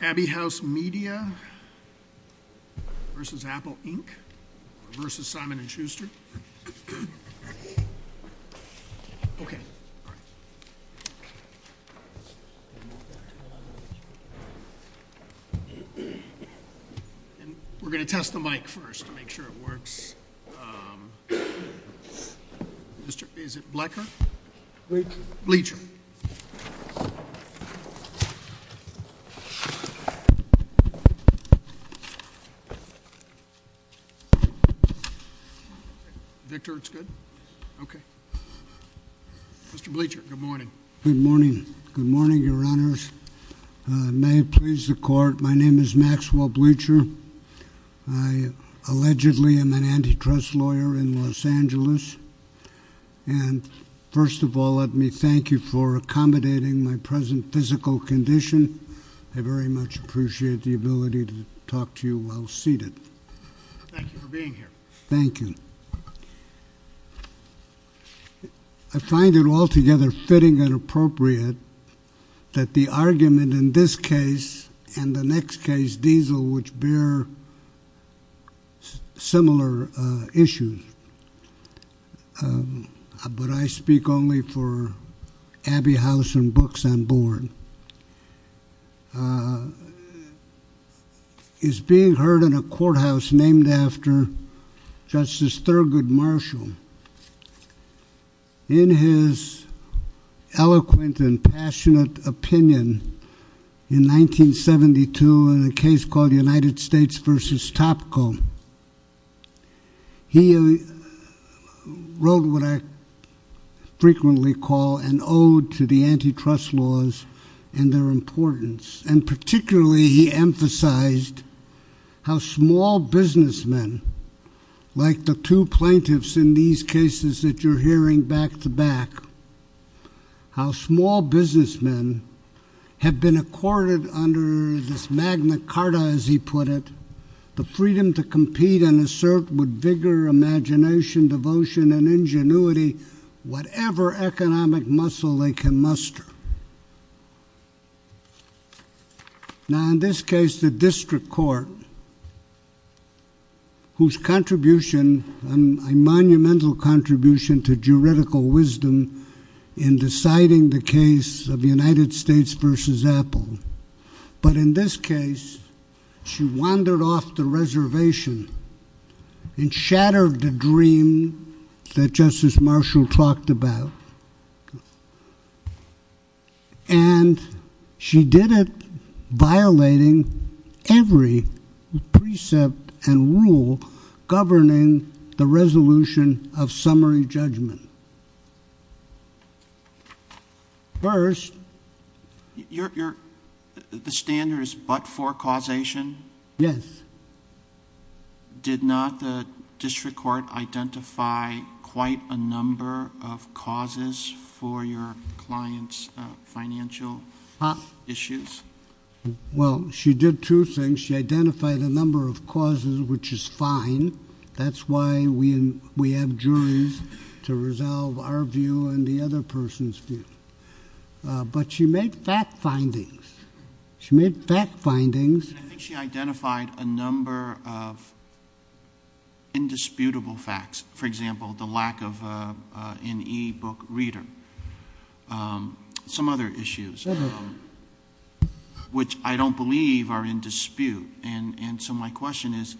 Abbey House Media v. Apple, Inc. v. Simon & Schuster We're going to test the mic first to make sure it works. Is it blecker? Bleacher. Okay. Victor it's good? Okay. Mr. Bleacher, good morning. Good morning. Good morning, your honors. May it please the court, my name is Maxwell Bleacher. I allegedly am an antitrust lawyer in Los Angeles. And first of all let me thank you for accommodating my present physical condition. I very much appreciate the ability to talk to you while seated. Thank you for being here. Thank you. I find it altogether fitting and appropriate that the argument in this case and the next case, Diesel, which bear similar issues. But I speak only for Abbey House and books I'm born. Is being heard in a courthouse named after Justice Thurgood Marshall. In his eloquent and passionate opinion in 1972 in a case called United States versus Topco. He wrote what I frequently call an ode to the antitrust laws and their importance. And particularly he emphasized how small businessmen, like the two plaintiffs in these cases that you're hearing back to back. How small businessmen have been accorded under this Magna Carta as he put it. The freedom to compete and assert with vigor, imagination, devotion and ingenuity. Whatever economic muscle they can muster. Now in this case the district court whose contribution, a monumental contribution to juridical wisdom in deciding the case of United States versus Apple. But in this case she wandered off the reservation and shattered the dream that Justice Marshall talked about. And she did it violating every precept and rule governing the resolution of summary judgment. First. The standard is but for causation? Yes. Did not the district court identify quite a number of causes for your client's financial issues? Well, she did two things. She identified a number of causes, which is fine. That's why we have juries to resolve our view and the other person's view. But she made fact findings. She made fact findings. I think she identified a number of indisputable facts. For example, the lack of an e-book reader. Some other issues, which I don't believe are in dispute. And so my question is,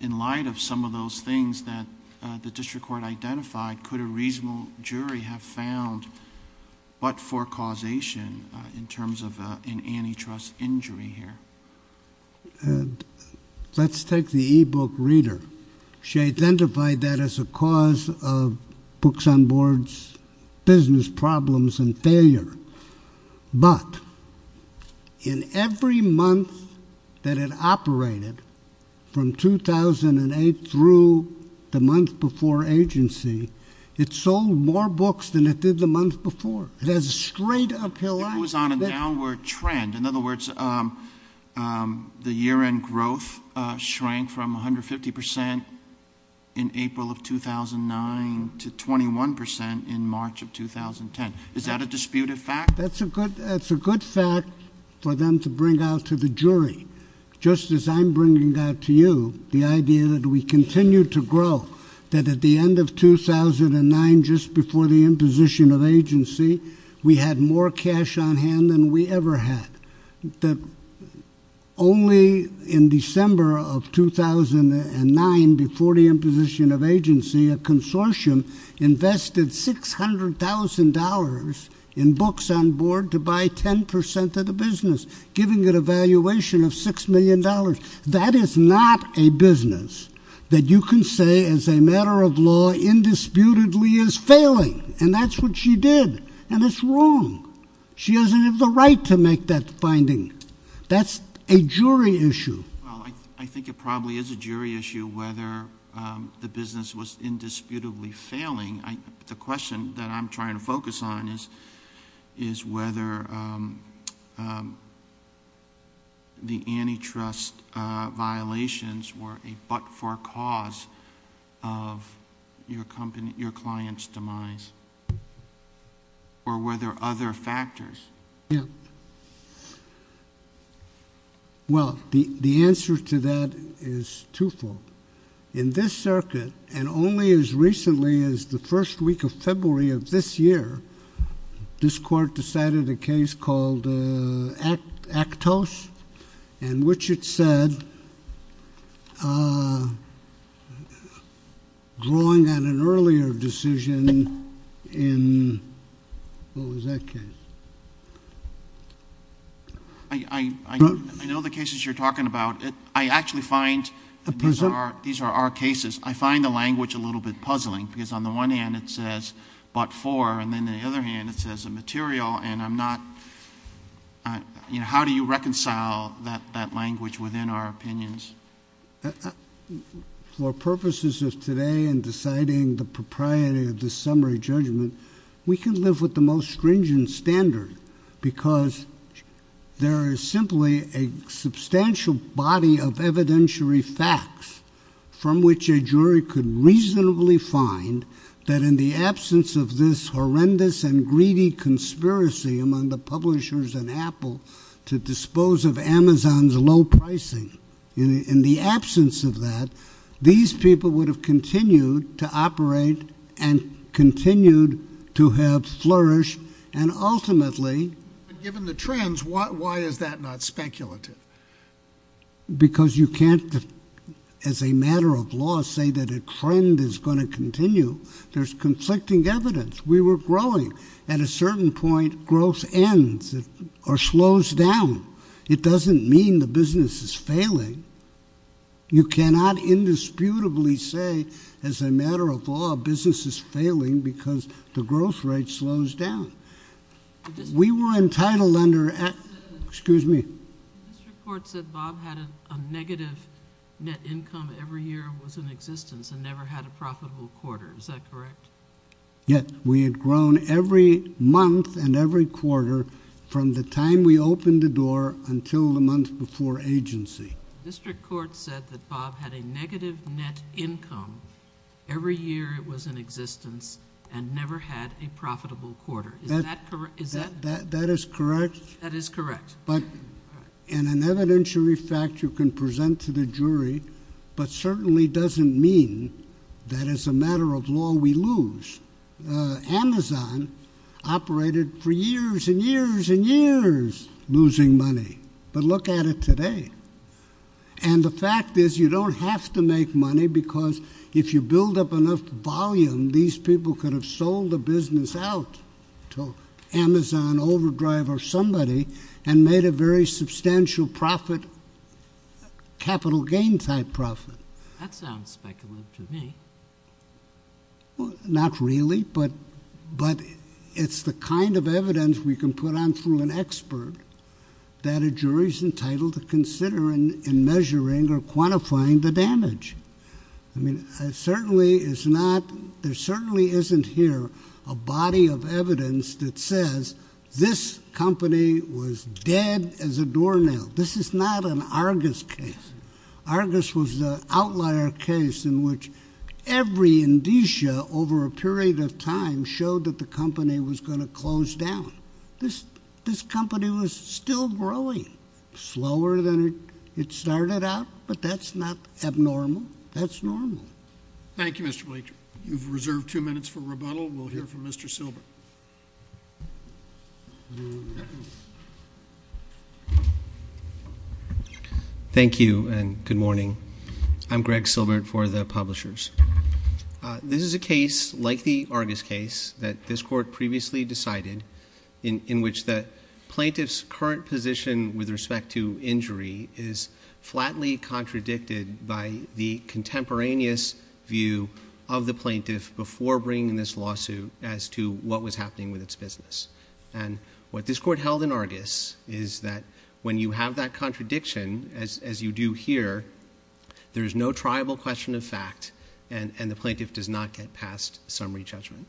in light of some of those things that the district court identified, could a reasonable jury have found but for causation in terms of an antitrust injury here? Let's take the e-book reader. She identified that as a cause of Books on Board's business problems and failure. But in every month that it operated, from 2008 through the month before agency, it sold more books than it did the month before. It has a straight uphill line. It was on a downward trend. In other words, the year-end growth shrank from 150% in April of 2009 to 21% in March of 2010. Is that a disputed fact? That's a good fact for them to bring out to the jury. Just as I'm bringing out to you the idea that we continue to grow. That at the end of 2009, just before the imposition of agency, we had more cash on hand than we ever had. That only in December of 2009, before the imposition of agency, a consortium invested $600,000 in Books on Board to buy 10% of the business, giving it a valuation of $6 million. That is not a business that you can say, as a matter of law, indisputably is failing. And that's what she did. And it's wrong. She doesn't have the right to make that finding. That's a jury issue. Well, I think it probably is a jury issue whether the business was indisputably failing. The question that I'm trying to focus on is whether the antitrust violations were a but-for cause of your client's demise. Or were there other factors? Yeah. Well, the answer to that is twofold. In this circuit, and only as recently as the first week of February of this year, this court decided a case called Actos, in which it said, drawing on an earlier decision in, what was that case? I know the cases you're talking about. I actually find these are our cases. I find the language a little bit puzzling. Because on the one hand, it says but-for. And then, on the other hand, it says immaterial. And I'm not, you know, how do you reconcile that language within our opinions? For purposes of today and deciding the propriety of this summary judgment, we can live with the most stringent standard. Because there is simply a substantial body of evidentiary facts from which a jury could reasonably find that in the absence of this horrendous and greedy conspiracy among the publishers and Apple to dispose of Amazon's low pricing, in the absence of that, these people would have continued to operate and continued to have flourished and ultimately. But given the trends, why is that not speculative? Because you can't, as a matter of law, say that a trend is going to continue. There's conflicting evidence. We were growing. At a certain point, growth ends or slows down. It doesn't mean the business is failing. You cannot indisputably say, as a matter of law, business is failing because the growth rate slows down. We were entitled under... Excuse me. This report said Bob had a negative net income every year was in existence and never had a profitable quarter. Is that correct? Yes. We had grown every month and every quarter from the time we opened the door until the month before agency. The district court said that Bob had a negative net income every year it was in existence and never had a profitable quarter. Is that correct? That is correct. That is correct. But in an evidentiary fact, you can present to the jury, but certainly doesn't mean that, as a matter of law, we lose. Amazon operated for years and years and years losing money. But look at it today. And the fact is you don't have to make money because if you build up enough volume, these people could have sold the business out to Amazon, Overdrive, or somebody and made a very substantial profit, capital gain type profit. That sounds speculative to me. Not really, but it's the kind of evidence we can put on through an expert that a jury is entitled to consider in measuring or quantifying the damage. I mean, there certainly isn't here a body of evidence that says this company was dead as a doornail. This is not an Argus case. Argus was the outlier case in which every indicia over a period of time showed that the company was going to close down. This company was still growing. Slower than it started out, but that's not abnormal. That's normal. Thank you, Mr. Blanchard. You've reserved two minutes for rebuttal. We'll hear from Mr. Silber. Thank you, and good morning. I'm Greg Silbert for the publishers. This is a case like the Argus case that this court previously decided in which the plaintiff's current position with respect to injury is flatly contradicted by the contemporaneous view of the plaintiff before bringing this lawsuit as to what was happening with its business. What this court held in Argus is that when you have that contradiction, as you do here, there is no triable question of fact and the plaintiff does not get past summary judgment.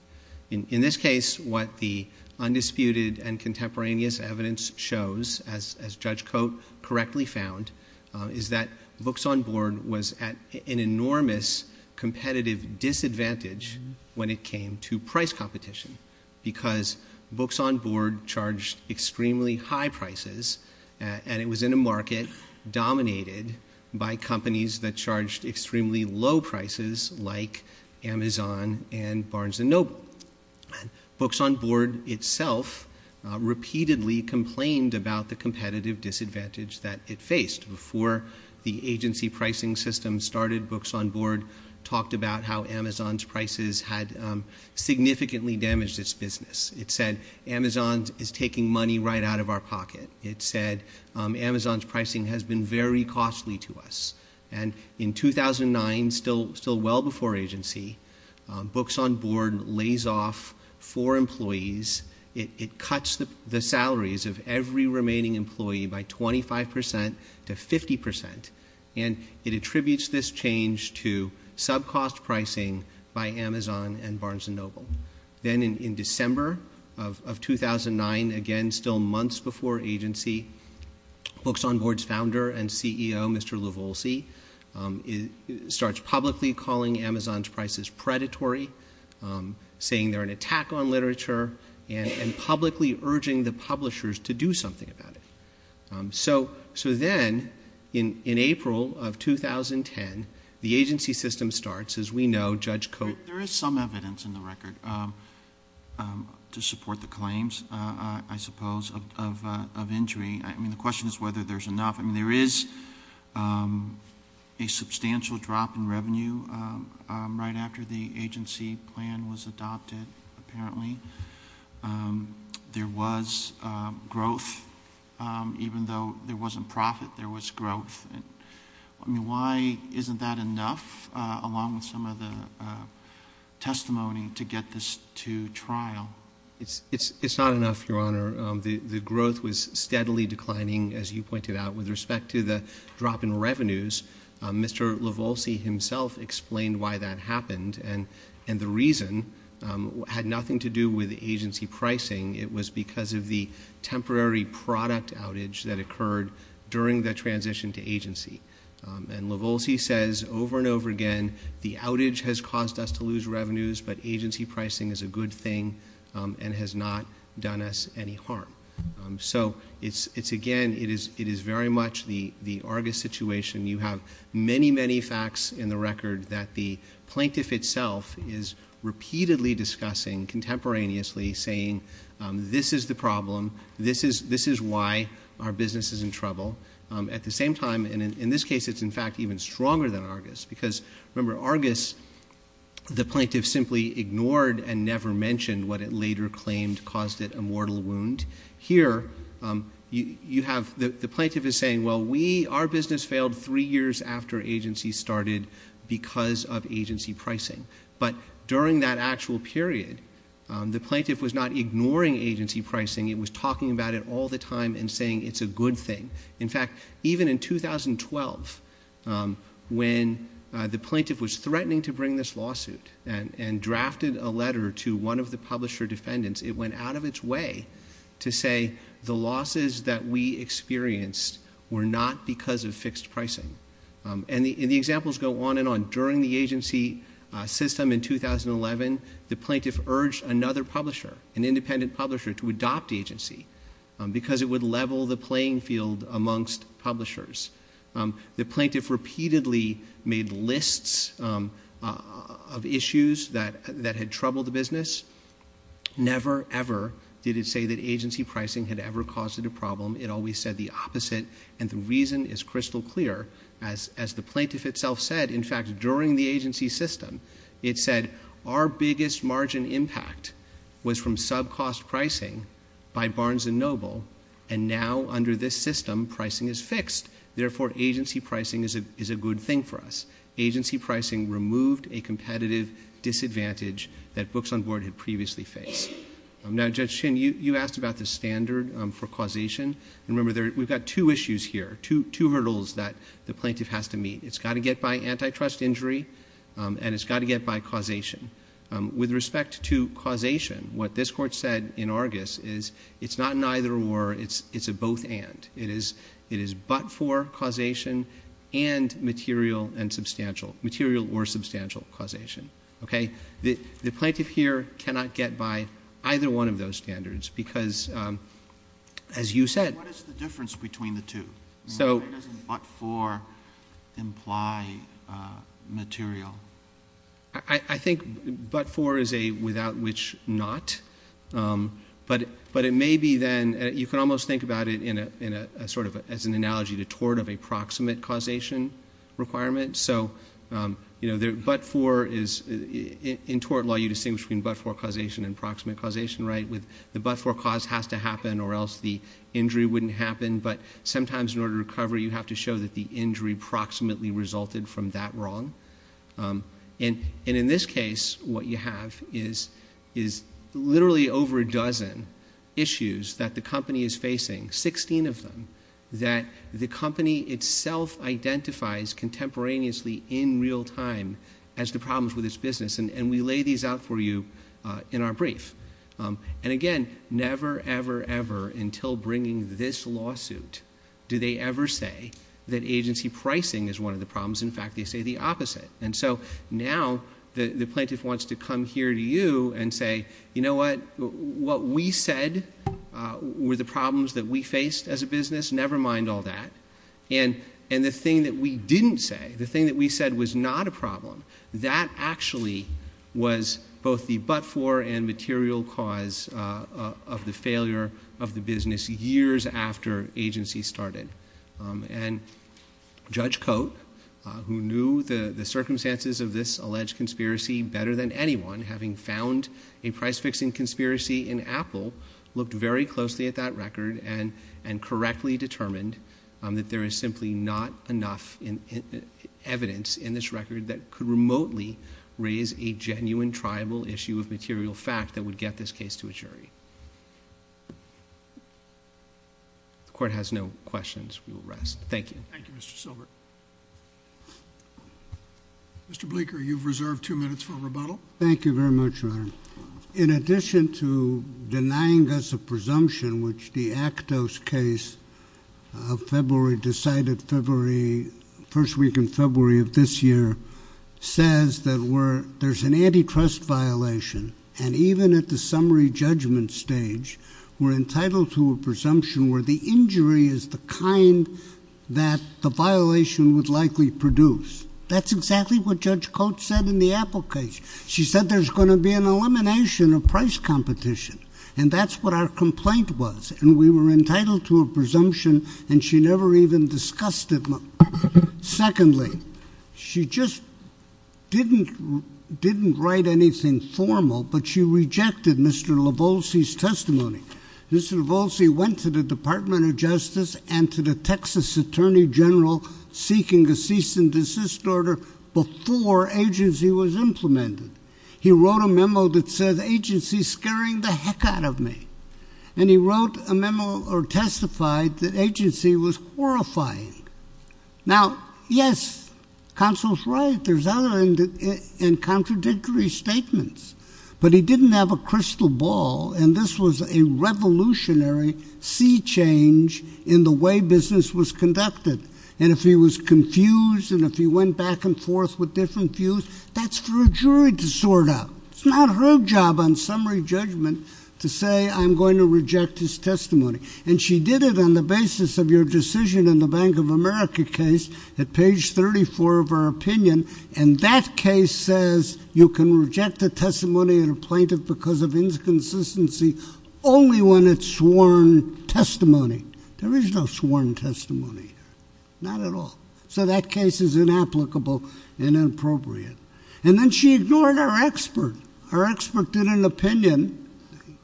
In this case, what the undisputed and contemporaneous evidence shows, as Judge Cote correctly found, is that Books on Board was at an enormous competitive disadvantage when it came to price competition because Books on Board charged extremely high prices and it was in a market dominated by companies that charged extremely low prices like Amazon and Barnes & Noble. Books on Board itself repeatedly complained about the competitive disadvantage that it faced. Before the agency pricing system started, Books on Board talked about how Amazon's prices had significantly damaged its business. It said, Amazon is taking money right out of our pocket. It said, Amazon's pricing has been very costly to us. In 2009, still well before agency, Books on Board lays off four employees. It cuts the salaries of every remaining employee by 25% to 50% and it attributes this change to sub-cost pricing by Amazon and Barnes & Noble. Then in December of 2009, again still months before agency, Books on Board's founder and CEO, Mr. Livolsi, starts publicly calling Amazon's prices predatory, saying they're an attack on literature and publicly urging the publishers to do something about it. So then in April of 2010, the agency system starts. As we know, Judge Coates... There is some evidence in the record to support the claims, I suppose, of injury. I mean, the question is whether there's enough. I mean, there is a substantial drop in revenue right after the agency plan was adopted, apparently. There was growth. Even though there wasn't profit, there was growth. I mean, why isn't that enough, along with some of the testimony, to get this to trial? It's not enough, Your Honor. The growth was steadily declining, as you pointed out. With respect to the drop in revenues, Mr. Livolsi himself explained why that happened. And the reason had nothing to do with agency pricing. It was because of the temporary product outage that occurred during the transition to agency. And Livolsi says over and over again, the outage has caused us to lose revenues, but agency pricing is a good thing and has not done us any harm. So, again, it is very much the Argus situation. You have many, many facts in the record that the plaintiff itself is repeatedly discussing contemporaneously, saying, this is the problem. This is why our business is in trouble. At the same time, and in this case, it's in fact even stronger than Argus. Because, remember, Argus, the plaintiff simply ignored and never mentioned what it later claimed caused it a mortal wound. Here, the plaintiff is saying, well, our business failed three years after agency started because of agency pricing. But during that actual period, the plaintiff was not ignoring agency pricing. It was talking about it all the time and saying it's a good thing. In fact, even in 2012, when the plaintiff was threatening to bring this lawsuit and drafted a letter to one of the publisher defendants, it went out of its way to say the losses that we experienced were not because of fixed pricing. And the examples go on and on. During the agency system in 2011, the plaintiff urged another publisher, an independent publisher, to adopt agency because it would level the playing field amongst publishers. The plaintiff repeatedly made lists of issues that had troubled the business. Never, ever did it say that agency pricing had ever caused it a problem. It always said the opposite. And the reason is crystal clear. As the plaintiff itself said, in fact, during the agency system, it said our biggest margin impact was from sub-cost pricing by Barnes & Noble. And now, under this system, pricing is fixed. Therefore, agency pricing is a good thing for us. Agency pricing removed a competitive disadvantage that books on board had previously faced. Now, Judge Chin, you asked about the standard for causation. Remember, we've got two issues here, two hurdles that the plaintiff has to meet. It's got to get by antitrust injury, and it's got to get by causation. With respect to causation, what this Court said in Argus is it's not an either-or, it's a both-and. It is but-for causation and material and substantial, material or substantial causation. Okay? The plaintiff here cannot get by either one of those standards because, as you said- What is the difference between the two? Why doesn't but-for imply material? I think but-for is a without-which-not. But it may be, then, you can almost think about it as an analogy to tort of a proximate causation requirement. So in tort law, you distinguish between but-for causation and proximate causation, right? The but-for cause has to happen or else the injury wouldn't happen. But sometimes in order to recover, you have to show that the injury proximately resulted from that wrong. And in this case, what you have is literally over a dozen issues that the company is facing, 16 of them, that the company itself identifies contemporaneously in real time as the problems with its business. And we lay these out for you in our brief. And again, never, ever, ever until bringing this lawsuit do they ever say that agency pricing is one of the problems. In fact, they say the opposite. And so now the plaintiff wants to come here to you and say, you know what? What we said were the problems that we faced as a business. Never mind all that. And the thing that we didn't say, the thing that we said was not a problem, that actually was both the but-for and material cause of the failure of the business years after agency started. And Judge Coate, who knew the circumstances of this alleged conspiracy better than anyone, having found a price-fixing conspiracy in Apple, looked very closely at that record and correctly determined that there is simply not enough evidence in this record that could remotely raise a genuine tribal issue of material fact that would get this case to a jury. The Court has no questions. We will rest. Thank you. Thank you, Mr. Silbert. Mr. Bleeker, you've reserved two minutes for rebuttal. Thank you very much, Your Honor. In addition to denying us a presumption, which the Actos case of February decided February, first week in February of this year, says that there's an antitrust violation, and even at the summary judgment stage, we're entitled to a presumption where the injury is the kind that the violation would likely produce. That's exactly what Judge Coate said in the Apple case. She said there's going to be an elimination of price competition, and that's what our complaint was. And we were entitled to a presumption, and she never even discussed it. Secondly, she just didn't write anything formal, but she rejected Mr. Lavolzi's testimony. Mr. Lavolzi went to the Department of Justice and to the Texas Attorney General seeking a cease and desist order before agency was implemented. He wrote a memo that says agency's scaring the heck out of me, and he wrote a memo or testified that agency was horrifying. Now, yes, counsel's right. There's other and contradictory statements, but he didn't have a crystal ball, and this was a revolutionary sea change in the way business was conducted. And if he was confused and if he went back and forth with different views, that's for a jury to sort out. It's not her job on summary judgment to say I'm going to reject his testimony. And she did it on the basis of your decision in the Bank of America case at page 34 of her opinion, and that case says you can reject a testimony in a plaintiff because of inconsistency only when it's sworn testimony. There is no sworn testimony here, not at all. So that case is inapplicable and inappropriate. And then she ignored our expert. Our expert did an opinion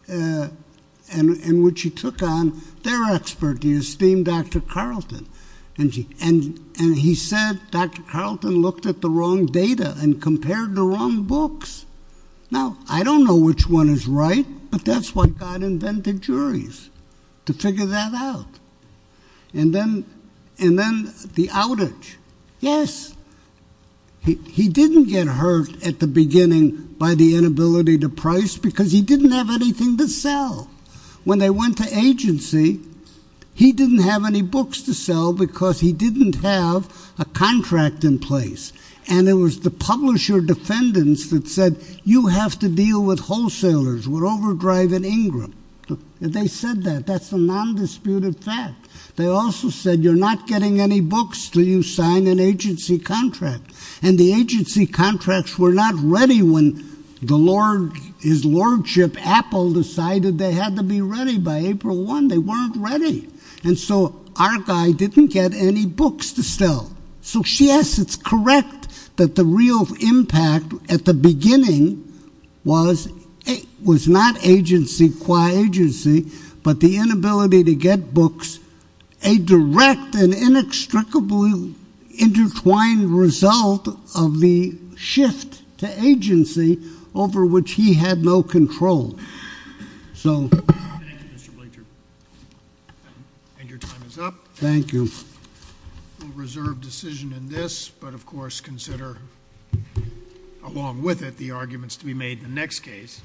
in which he took on their expert, the esteemed Dr. Carlton, and he said Dr. Carlton looked at the wrong data and compared the wrong books. Now, I don't know which one is right, but that's why God invented juries, to figure that out. And then the outage. Yes, he didn't get hurt at the beginning by the inability to price because he didn't have anything to sell. When they went to agency, he didn't have any books to sell because he didn't have a contract in place, and it was the publisher defendants that said you have to deal with wholesalers. We're overdriving Ingram. They said that. That's a nondisputed fact. They also said you're not getting any books until you sign an agency contract, and the agency contracts were not ready when his lordship, Apple, decided they had to be ready by April 1. They weren't ready. And so our guy didn't get any books to sell. So, yes, it's correct that the real impact at the beginning was not agency qua agency, but the inability to get books, a direct and inextricably intertwined result of the shift to agency over which he had no control. So. Thank you, Mr. Blanchard. And your time is up. Thank you. We'll reserve decision in this, but, of course, consider along with it the arguments to be made in the next case.